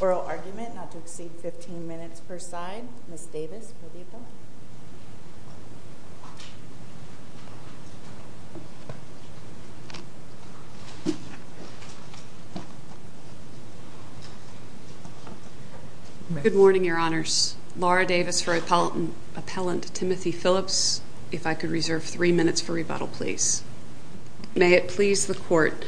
Oral argument not to exceed 15 minutes per side. Ms. Davis will be appellant. Good morning, Your Honors. Laura Davis for Appellant Timothy Phillips. If I could reserve three minutes for rebuttal, please. May it please the Court.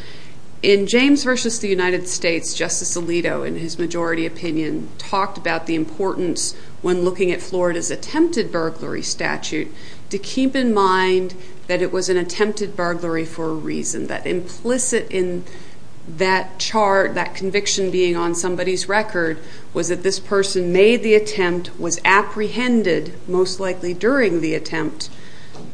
In James v. The United States, Justice Alito, in his majority opinion, talked about the importance when looking at Florida's attempted burglary statute to keep in mind that it was an attempted burglary for a reason. That implicit in that chart, that conviction being on somebody's record, was that this person made the attempt, was apprehended, most likely during the attempt,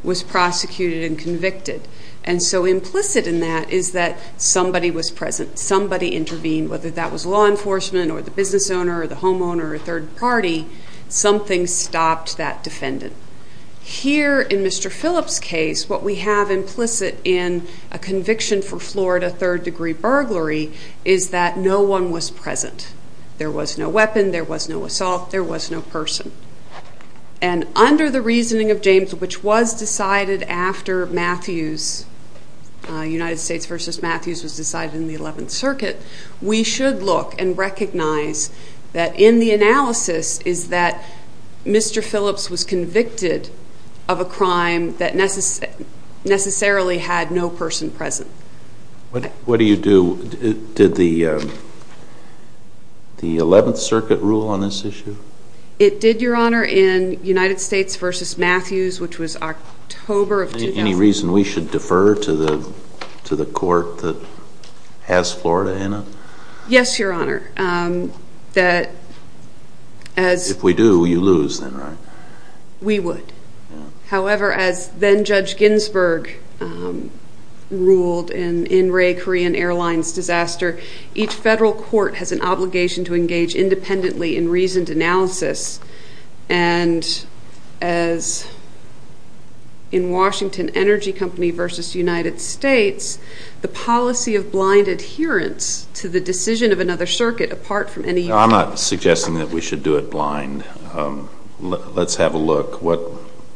was prosecuted and convicted. And so implicit in that is that somebody was present, somebody intervened, whether that was law enforcement or the business owner or the homeowner or a third party, something stopped that defendant. Here in Mr. Phillips' case, what we have implicit in a conviction for Florida third-degree burglary is that no one was present. There was no weapon, there was no assault, there was no person. And under the reasoning of James, which was decided after Matthews, United States v. Matthews was decided in the 11th Circuit, we should look and recognize that in the analysis is that Mr. Phillips was convicted of a crime that necessarily had no person present. What do you do? Did the 11th Circuit rule on this issue? It did, Your Honor, in United States v. Matthews, which was October of 2004. Any reason we should defer to the court that has Florida in it? Yes, Your Honor. If we do, you lose then, right? We would. However, as then-Judge Ginsburg ruled in Ray Korean Airlines' disaster, each federal court has an obligation to engage independently in reasoned analysis. And as in Washington Energy Company v. United States, the policy of blind adherence to the decision of another circuit, apart from any... I'm not suggesting that we should do it blind. Let's have a look. What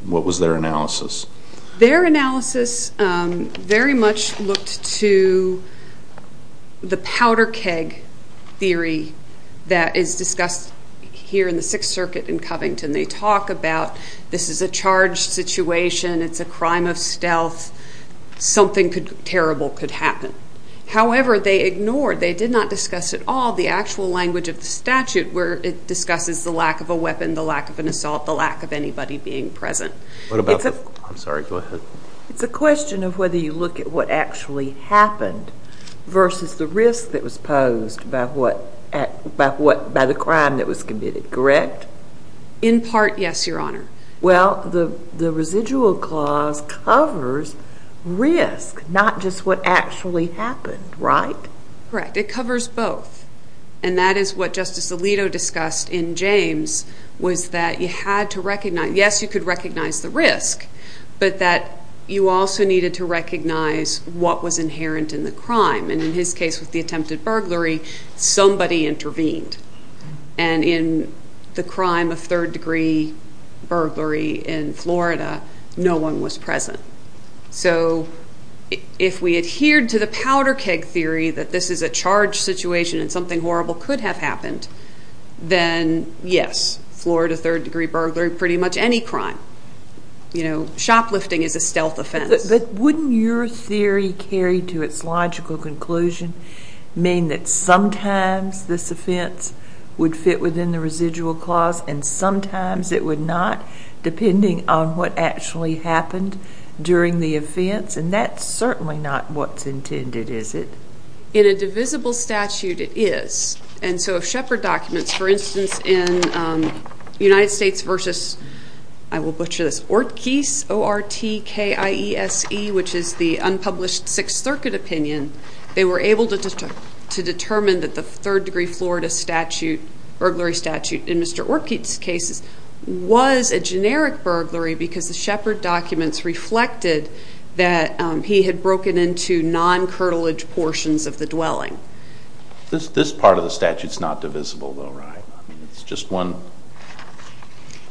was their analysis? Their analysis very much looked to the powder keg theory that is discussed here in the Sixth Circuit in Covington. They talk about this is a charged situation. It's a crime of stealth. Something terrible could happen. However, they ignored, they did not discuss at all the actual language of the statute where it discusses the lack of a weapon, the lack of an assault, the lack of anybody being present. I'm sorry, go ahead. It's a question of whether you look at what actually happened versus the risk that was posed by the crime that was committed, correct? In part, yes, Your Honor. Well, the residual clause covers risk, not just what actually happened, right? Correct. It covers both. And that is what Justice Alito discussed in James, was that you had to recognize, yes, you could recognize the risk, but that you also needed to recognize what was inherent in the crime. And in his case with the attempted burglary, somebody intervened. And in the crime of third-degree burglary in Florida, no one was present. So if we adhered to the powder keg theory that this is a charge situation and something horrible could have happened, then yes, Florida third-degree burglary, pretty much any crime. You know, shoplifting is a stealth offense. But wouldn't your theory carried to its logical conclusion mean that sometimes this offense would fit within the residual clause and sometimes it would not depending on what actually happened during the offense? And that's certainly not what's intended, is it? In a divisible statute, it is. And so if Shepard documents, for instance, in United States versus, I will butcher this, Ortkiese, O-R-T-K-I-E-S-E, which is the unpublished Sixth Circuit opinion, they were able to determine that the third-degree Florida statute, burglary statute in Mr. Ortkiese's case was a generic burglary because the Shepard documents reflected that he had broken into non-curtilage portions of the dwelling. This part of the statute is not divisible, though, right? It's just one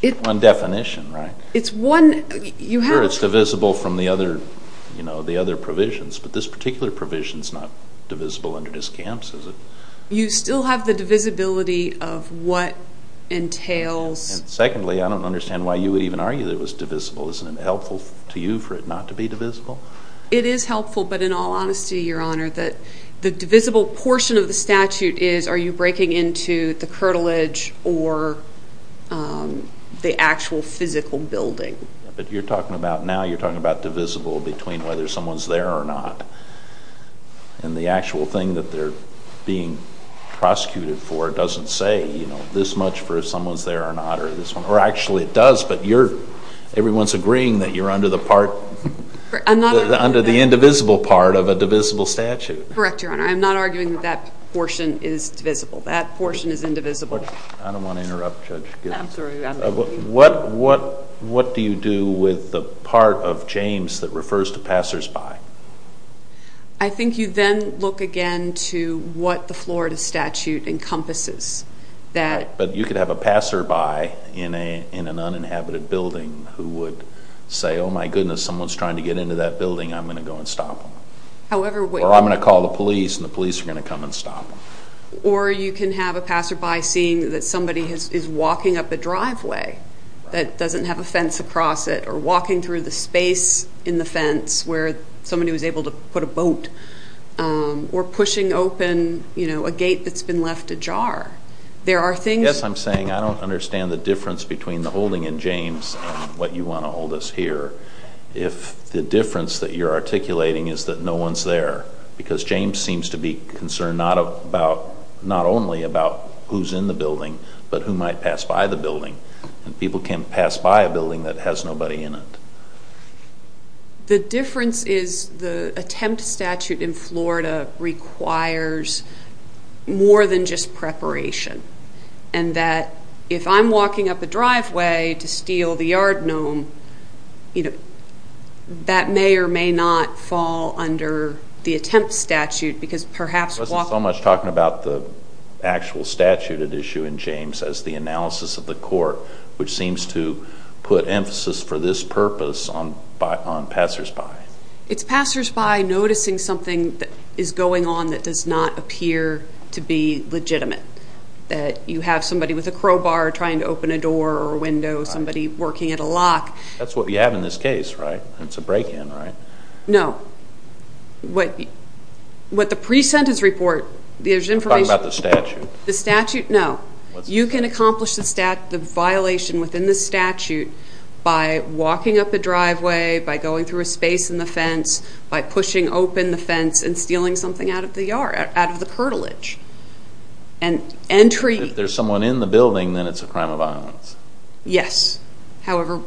definition, right? It's one. Sure, it's divisible from the other provisions, but this particular provision is not divisible under discounts, is it? You still have the divisibility of what entails. And secondly, I don't understand why you would even argue that it was divisible. Isn't it helpful to you for it not to be divisible? It is helpful, but in all honesty, Your Honor, the divisible portion of the statute is are you breaking into the curtilage or the actual physical building. But you're talking about now, you're talking about divisible between whether someone's there or not. And the actual thing that they're being prosecuted for doesn't say, you know, it doesn't do as much for if someone's there or not. Or actually it does, but everyone's agreeing that you're under the part, under the indivisible part of a divisible statute. Correct, Your Honor. I'm not arguing that that portion is divisible. That portion is indivisible. I don't want to interrupt Judge Gittins. What do you do with the part of James that refers to passersby? I think you then look again to what the Florida statute encompasses. But you could have a passerby in an uninhabited building who would say, oh, my goodness, someone's trying to get into that building. I'm going to go and stop them. Or I'm going to call the police and the police are going to come and stop them. Or you can have a passerby seeing that somebody is walking up a driveway that doesn't have a fence across it or walking through the space in the fence where somebody was able to put a boat or pushing open a gate that's been left ajar. Yes, I'm saying I don't understand the difference between the holding in James and what you want to hold us here. If the difference that you're articulating is that no one's there, because James seems to be concerned not only about who's in the building but who might pass by the building. People can't pass by a building that has nobody in it. The difference is the attempt statute in Florida requires more than just preparation and that if I'm walking up a driveway to steal the yard gnome, that may or may not fall under the attempt statute because perhaps walking... It wasn't so much talking about the actual statute at issue in James as the analysis of the court, which seems to put emphasis for this purpose on passersby. It's passersby noticing something that is going on that does not appear to be legitimate, that you have somebody with a crowbar trying to open a door or a window, somebody working at a lock. That's what we have in this case, right? It's a break-in, right? No. What the pre-sentence report, there's information... I'm talking about the statute. The statute? No. You can accomplish the violation within the statute by walking up a driveway, by going through a space in the fence, by pushing open the fence and stealing something out of the yard, out of the curtilage and entry... If there's someone in the building, then it's a crime of violence. Yes, however...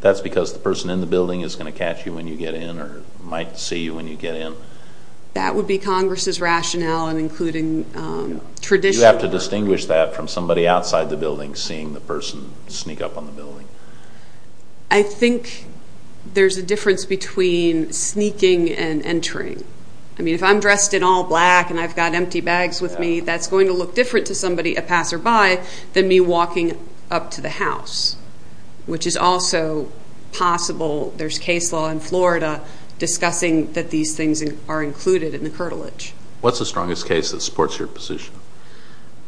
That's because the person in the building is going to catch you when you get in or might see you when you get in? That would be Congress's rationale and including traditional... You have to distinguish that from somebody outside the building seeing the person sneak up on the building. I think there's a difference between sneaking and entering. I mean, if I'm dressed in all black and I've got empty bags with me, that's going to look different to somebody a passerby than me walking up to the house, which is also possible. There's case law in Florida discussing that these things are included in the curtilage. What's the strongest case that supports your position?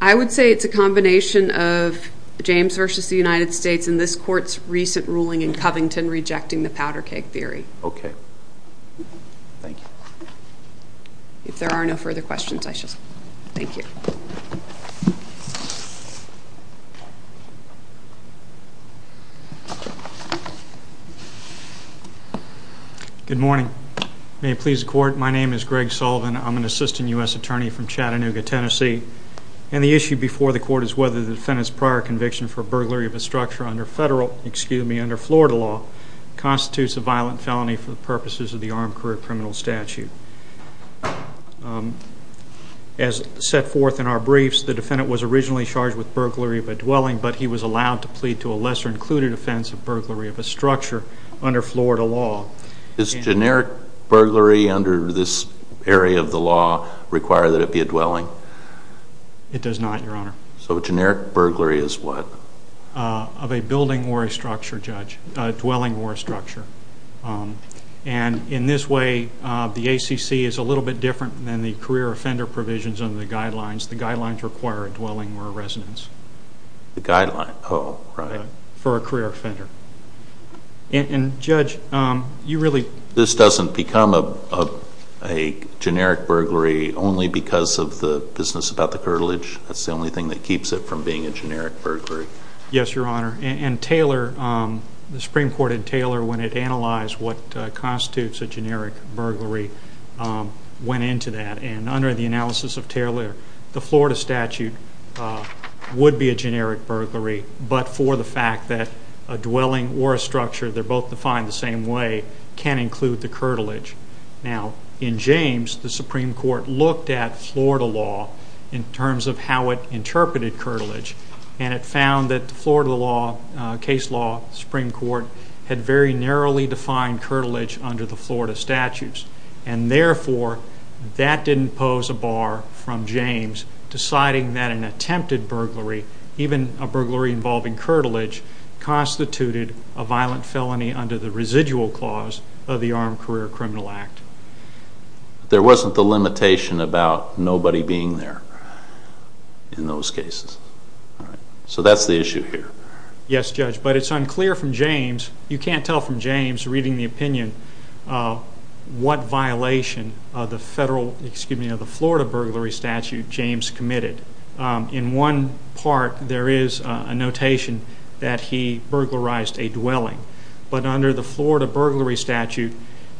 I would say it's a combination of James v. The United States and this Court's recent ruling in Covington rejecting the powder keg theory. Okay. Thank you. If there are no further questions, I shall... Thank you. Good morning. May it please the Court, my name is Greg Sullivan. I'm an assistant U.S. attorney from Chattanooga, Tennessee, and the issue before the Court is whether the defendant's prior conviction for burglary of a structure under Florida law constitutes a violent felony for the purposes of the Armed Career Criminal Statute. As set forth in our briefs, the defendant was originally charged with burglary of a dwelling, but he was allowed to plead to a lesser-included offense of burglary of a structure under Florida law. Does generic burglary under this area of the law require that it be a dwelling? It does not, Your Honor. So generic burglary is what? Of a building or a structure, Judge, a dwelling or a structure. And in this way, the ACC is a little bit different than the career offender provisions under the guidelines. The guidelines require a dwelling or a residence. The guidelines, oh, right. For a career offender. And, Judge, you really? This doesn't become a generic burglary only because of the business about the curtilage? That's the only thing that keeps it from being a generic burglary? Yes, Your Honor. And Taylor, the Supreme Court in Taylor, when it analyzed what constitutes a generic burglary, went into that. And under the analysis of Taylor, the Florida statute would be a generic burglary, but for the fact that a dwelling or a structure, they're both defined the same way, can include the curtilage. Now, in James, the Supreme Court looked at Florida law in terms of how it interpreted curtilage, and it found that the Florida law, case law, Supreme Court, had very narrowly defined curtilage under the Florida statutes. And therefore, that didn't pose a bar from James deciding that an attempted burglary, even a burglary involving curtilage, constituted a violent felony under the residual clause of the Armed Career Criminal Act. There wasn't the limitation about nobody being there in those cases. So that's the issue here. Yes, Judge, but it's unclear from James. You can't tell from James, reading the opinion, what violation of the Florida burglary statute James committed. In one part, there is a notation that he burglarized a dwelling. But under the Florida burglary statute,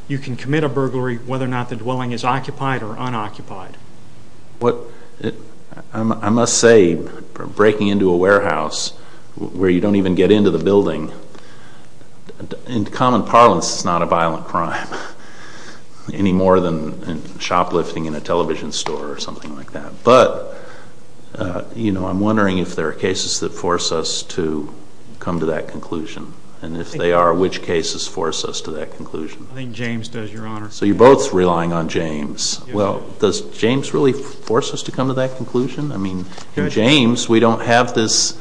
you can commit a burglary whether or not the dwelling is occupied or unoccupied. I must say, breaking into a warehouse where you don't even get into the building, in common parlance, is not a violent crime any more than shoplifting in a television store or something like that. But I'm wondering if there are cases that force us to come to that conclusion, and if they are, which cases force us to that conclusion? I think James does, Your Honor. So you're both relying on James. Well, does James really force us to come to that conclusion? I mean, in James, we don't have this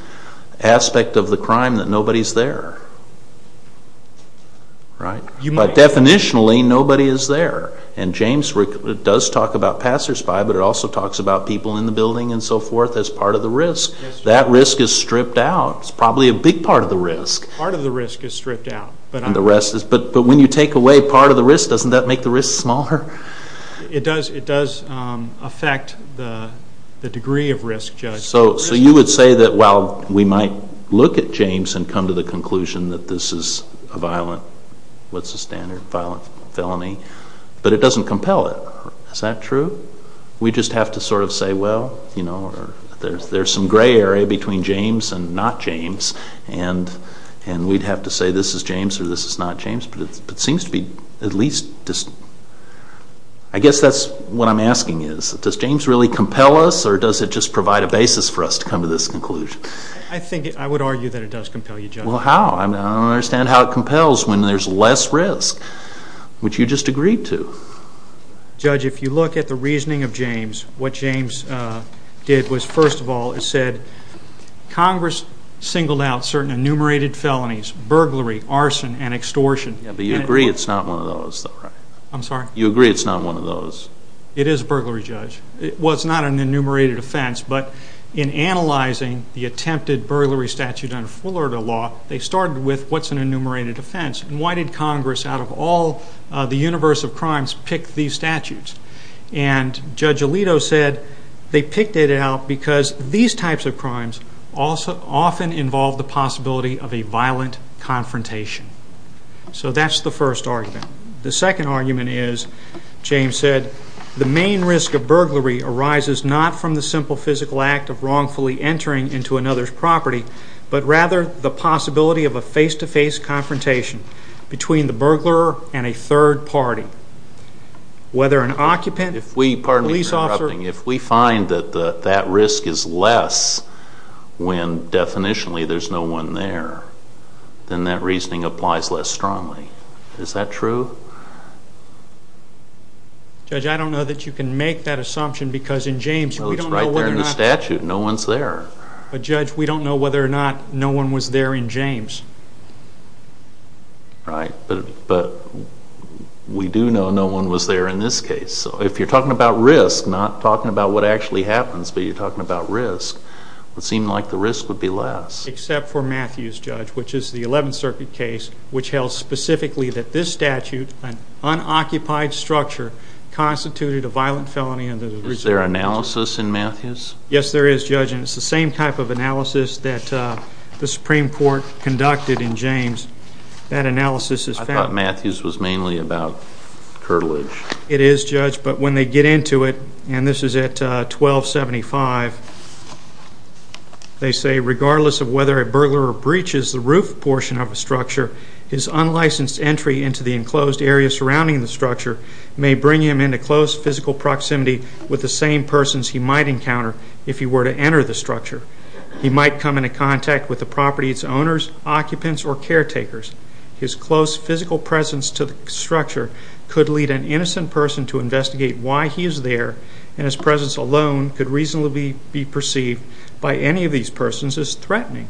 aspect of the crime that nobody's there, right? But definitionally, nobody is there. And James does talk about passersby, but it also talks about people in the building and so forth as part of the risk. That risk is stripped out. It's probably a big part of the risk. Part of the risk is stripped out. But when you take away part of the risk, doesn't that make the risk smaller? It does affect the degree of risk, Judge. So you would say that while we might look at James and come to the conclusion that this is a violent, what's the standard, violent felony, but it doesn't compel it. Is that true? We just have to sort of say, well, you know, there's some gray area between James and not James, and we'd have to say this is James or this is not James. But it seems to be at least just... I guess that's what I'm asking is, does James really compel us or does it just provide a basis for us to come to this conclusion? I think I would argue that it does compel you, Judge. Well, how? I don't understand how it compels when there's less risk, which you just agreed to. Judge, if you look at the reasoning of James, what James did was, first of all, it said, Congress singled out certain enumerated felonies, burglary, arson, and extortion. Yeah, but you agree it's not one of those, though, right? I'm sorry? You agree it's not one of those? It is a burglary, Judge. Well, it's not an enumerated offense, but in analyzing the attempted burglary statute under Fullerton law, they started with what's an enumerated offense and why did Congress, out of all the universe of crimes, pick these statutes. And Judge Alito said they picked it out because these types of crimes often involve the possibility of a violent confrontation. So that's the first argument. The second argument is, James said, the main risk of burglary arises not from the simple physical act of wrongfully entering into another's property, but rather the possibility of a face-to-face confrontation between the burglar and a third party. Whether an occupant, police officer... Pardon me for interrupting. If we find that that risk is less when, definitionally, there's no one there, then that reasoning applies less strongly. Is that true? Judge, I don't know that you can make that assumption because in James... Well, it's right there in the statute. No one's there. But, Judge, we don't know whether or not no one was there in James. Right, but we do know no one was there in this case. So if you're talking about risk, not talking about what actually happens, but you're talking about risk, it would seem like the risk would be less. Except for Matthews, Judge, which is the 11th Circuit case, which held specifically that this statute, an unoccupied structure, constituted a violent felony under the... Is there analysis in Matthews? ...analysis that the Supreme Court conducted in James. That analysis is found... I thought Matthews was mainly about curtilage. It is, Judge, but when they get into it, and this is at 1275, they say, Regardless of whether a burglar breaches the roof portion of a structure, his unlicensed entry into the enclosed area surrounding the structure may bring him into close physical proximity with the same persons he might encounter if he were to enter the structure. He might come into contact with the property's owners, occupants, or caretakers. His close physical presence to the structure could lead an innocent person to investigate why he is there, and his presence alone could reasonably be perceived by any of these persons as threatening.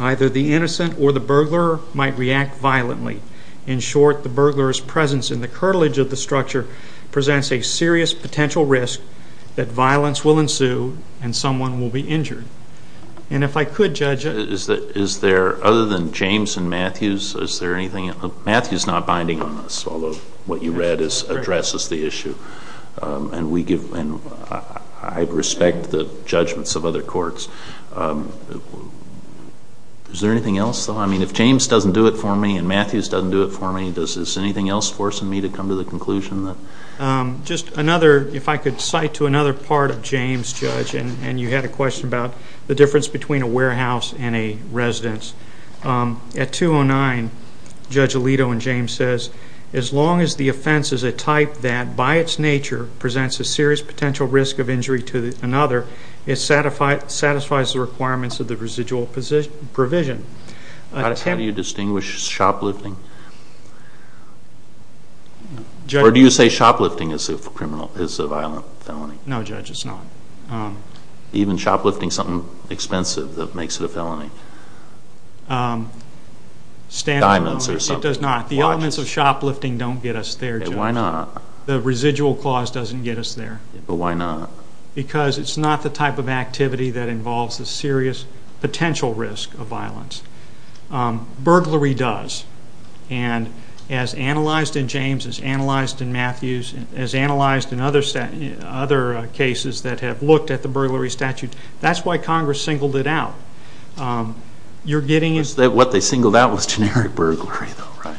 Either the innocent or the burglar might react violently. In short, the burglar's presence in the curtilage of the structure presents a serious potential risk that violence will ensue and someone will be injured. And if I could, Judge... Is there, other than James and Matthews, is there anything... Matthews is not binding on this, although what you read addresses the issue. And I respect the judgments of other courts. Is there anything else, though? I mean, if James doesn't do it for me and Matthews doesn't do it for me, is there anything else forcing me to come to the conclusion that... Just another, if I could cite to another part of James, Judge, and you had a question about the difference between a warehouse and a residence. At 209, Judge Alito and James says, as long as the offense is a type that, by its nature, presents a serious potential risk of injury to another, it satisfies the requirements of the residual provision. How do you distinguish shoplifting? Or do you say shoplifting is a violent felony? No, Judge, it's not. Even shoplifting something expensive that makes it a felony? Diamonds or something. It does not. The elements of shoplifting don't get us there, Judge. Why not? The residual clause doesn't get us there. But why not? Because it's not the type of activity that involves a serious potential risk of violence. Burglary does. And as analyzed in James, as analyzed in Matthews, as analyzed in other cases that have looked at the burglary statute, that's why Congress singled it out. What they singled out was generic burglary, though, right?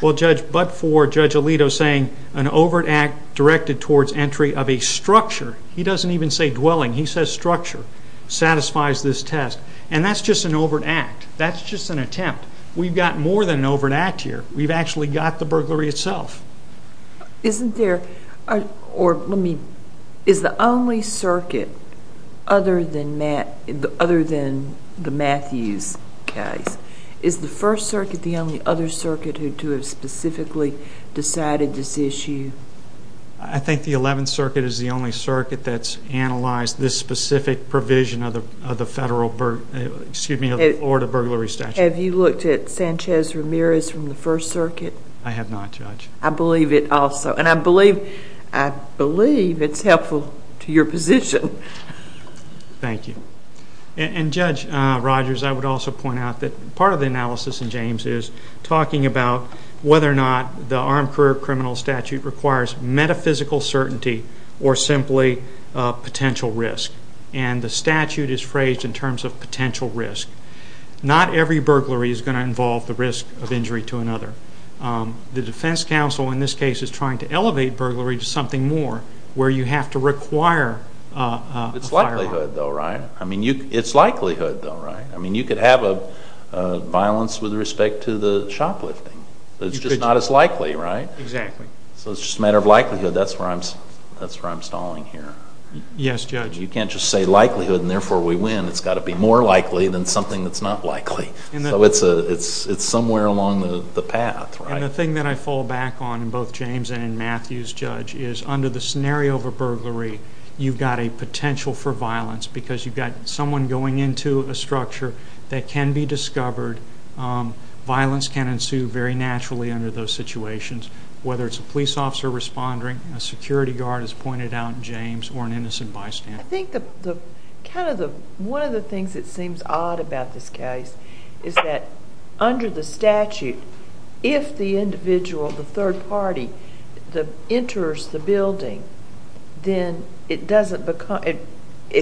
Well, Judge, but for Judge Alito saying an overt act directed towards entry of a structure, he doesn't even say dwelling, he says structure, satisfies this test. And that's just an overt act. That's just an attempt. We've got more than an overt act here. We've actually got the burglary itself. Isn't there, or let me, is the only circuit other than the Matthews case, is the First Circuit the only other circuit to have specifically decided this issue? I think the Eleventh Circuit is the only circuit that's analyzed this specific provision of the Have you looked at Sanchez-Ramirez from the First Circuit? I have not, Judge. I believe it also. And I believe it's helpful to your position. Thank you. And, Judge Rogers, I would also point out that part of the analysis in James is talking about whether or not the armed career criminal statute requires metaphysical certainty or simply potential risk. And the statute is phrased in terms of potential risk. Not every burglary is going to involve the risk of injury to another. The defense counsel in this case is trying to elevate burglary to something more where you have to require a firearm. It's likelihood, though, right? I mean, it's likelihood, though, right? I mean, you could have a violence with respect to the shoplifting. It's just not as likely, right? Exactly. So it's just a matter of likelihood. That's where I'm stalling here. Yes, Judge. You can't just say likelihood and therefore we win. It's got to be more likely than something that's not likely. So it's somewhere along the path, right? And the thing that I fall back on in both James and in Matthew's, Judge, is under the scenario of a burglary you've got a potential for violence because you've got someone going into a structure that can be discovered. Violence can ensue very naturally under those situations, whether it's a police officer responding, a security guard, as pointed out in James, or an innocent bystander. I think kind of one of the things that seems odd about this case is that under the statute if the individual, the third party, enters the building, then it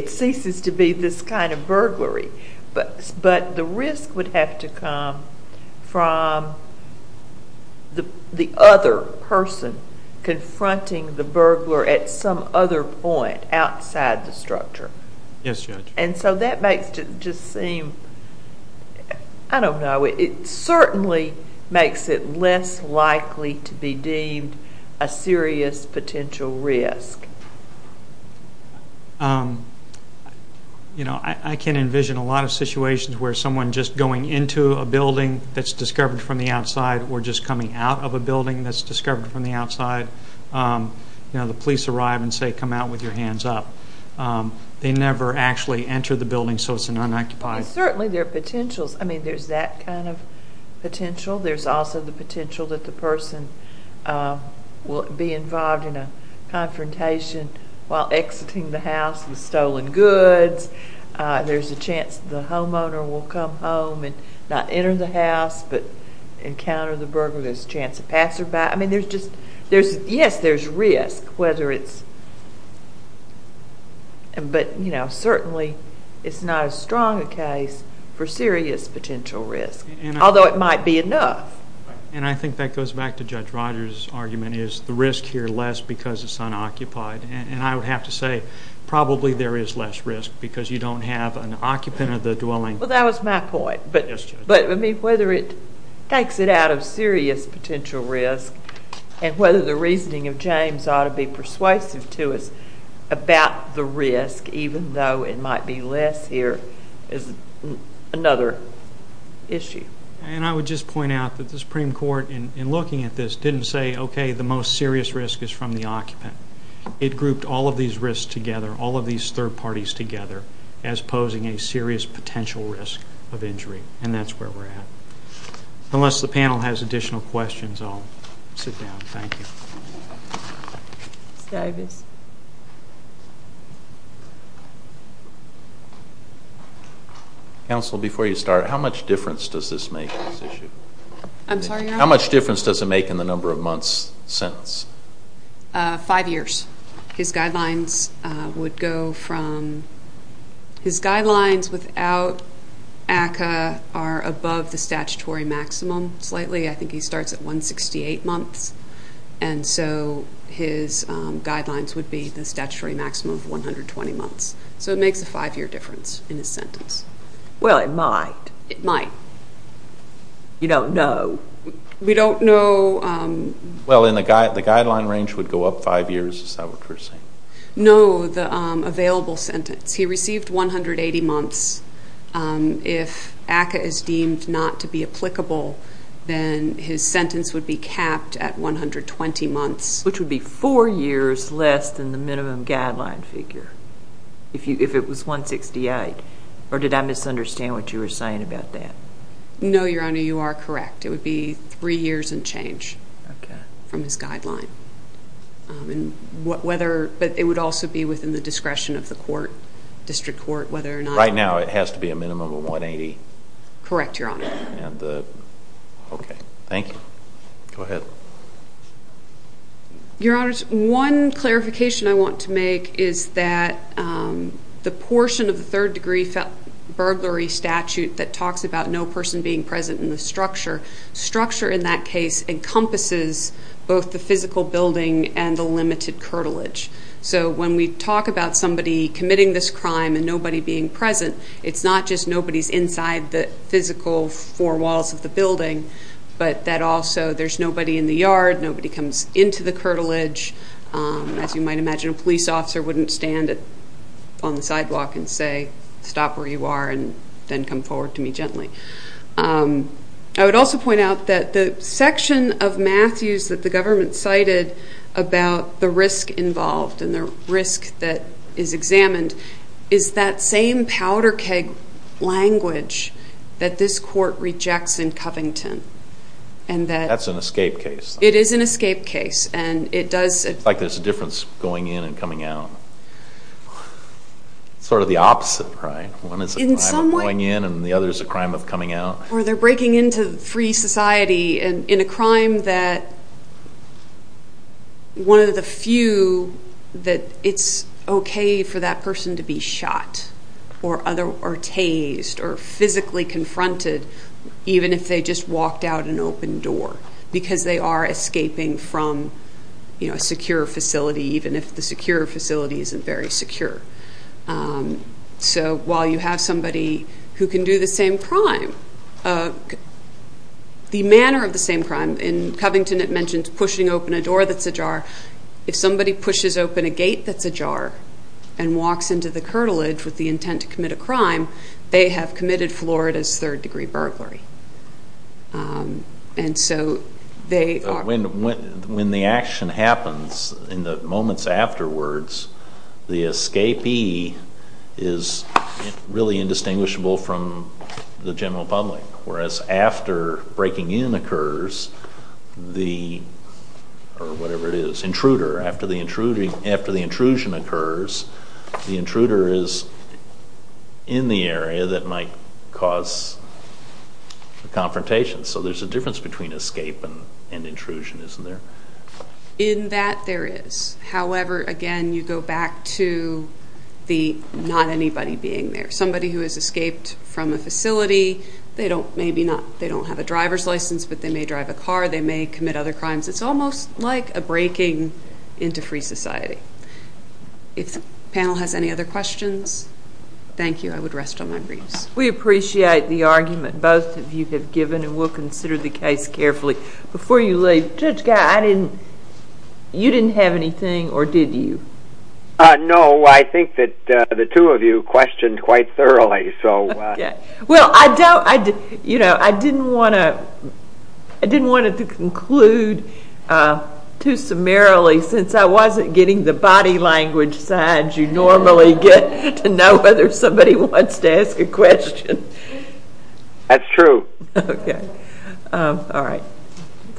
ceases to be this kind of burglary. But the risk would have to come from the other person confronting the burglar at some other point outside the structure. Yes, Judge. And so that makes it just seem, I don't know, it certainly makes it less likely to be deemed a serious potential risk. You know, I can envision a lot of situations where someone just going into a building that's discovered from the outside or just coming out of a building that's discovered from the outside. You know, the police arrive and say, come out with your hands up. They never actually enter the building, so it's an unoccupied. Certainly there are potentials. I mean, there's that kind of potential. There's also the potential that the person will be involved in a confrontation while exiting the house with stolen goods. There's a chance the homeowner will come home and not enter the house but encounter the burglar. There's a chance a passerby. I mean, there's just, yes, there's risk whether it's, but, you know, certainly it's not as strong a case for serious potential risk, although it might be enough. And I think that goes back to Judge Rogers' argument, is the risk here less because it's unoccupied? And I would have to say probably there is less risk because you don't have an occupant of the dwelling. Well, that was my point. Yes, Judge. But, I mean, whether it takes it out of serious potential risk and whether the reasoning of James ought to be persuasive to us about the risk, even though it might be less here, is another issue. And I would just point out that the Supreme Court, in looking at this, didn't say, okay, the most serious risk is from the occupant. It grouped all of these risks together, all of these third parties together, as posing a serious potential risk of injury, and that's where we're at. Unless the panel has additional questions, I'll sit down. Thank you. Counsel, before you start, how much difference does this make in this issue? I'm sorry, Your Honor? How much difference does it make in the number of months sentence? Five years. His guidelines would go from his guidelines without ACCA are above the statutory maximum slightly. I think he starts at 168 months, and so his guidelines would be the statutory maximum of 120 months. So it makes a five-year difference in his sentence. Well, it might. It might. You don't know? We don't know. Well, the guideline range would go up five years, is that what you're saying? No, the available sentence. He received 180 months. If ACCA is deemed not to be applicable, then his sentence would be capped at 120 months. Which would be four years less than the minimum guideline figure, if it was 168. Or did I misunderstand what you were saying about that? No, Your Honor, you are correct. It would be three years and change from his guideline. But it would also be within the discretion of the court, district court, whether or not. Right now it has to be a minimum of 180? Correct, Your Honor. Okay, thank you. Go ahead. Your Honors, one clarification I want to make is that the portion of the third-degree burglary statute that talks about no person being present in the structure, structure in that case encompasses both the physical building and the limited curtilage. So when we talk about somebody committing this crime and nobody being present, it's not just nobody's inside the physical four walls of the building, but that also there's nobody in the yard, nobody comes into the curtilage. As you might imagine, a police officer wouldn't stand on the sidewalk and say, stop where you are and then come forward to me gently. I would also point out that the section of Matthews that the government cited about the risk involved and the risk that is examined is that same powder keg language that this court rejects in Covington. That's an escape case. It is an escape case. It's like there's a difference going in and coming out. It's sort of the opposite, right? One is a crime of going in and the other is a crime of coming out. Or they're breaking into free society in a crime that one of the few that it's okay for that person to be shot or tased or physically confronted even if they just walked out an open door because they are escaping from a secure facility even if the secure facility isn't very secure. So while you have somebody who can do the same crime, the manner of the same crime, in Covington it mentions pushing open a door that's ajar. If somebody pushes open a gate that's ajar and walks into the curtilage with the intent to commit a crime, they have committed Florida's third degree burglary. And so they are... When the action happens in the moments afterwards, the escapee is really indistinguishable from the general public whereas after breaking in occurs the, or whatever it is, intruder, after the intrusion occurs, the intruder is in the area that might cause a confrontation. So there's a difference between escape and intrusion, isn't there? In that there is. However, again, you go back to the not anybody being there. Somebody who has escaped from a facility, they don't have a driver's license, but they may drive a car, they may commit other crimes. It's almost like a breaking into free society. If the panel has any other questions, thank you. I would rest on my briefs. We appreciate the argument both of you have given and we'll consider the case carefully. Before you leave, Judge Guy, you didn't have anything or did you? No, I think that the two of you questioned quite thoroughly. Well, I didn't want to conclude too summarily since I wasn't getting the body language side you normally get to know whether somebody wants to ask a question. That's true. Okay. All right. Thank you.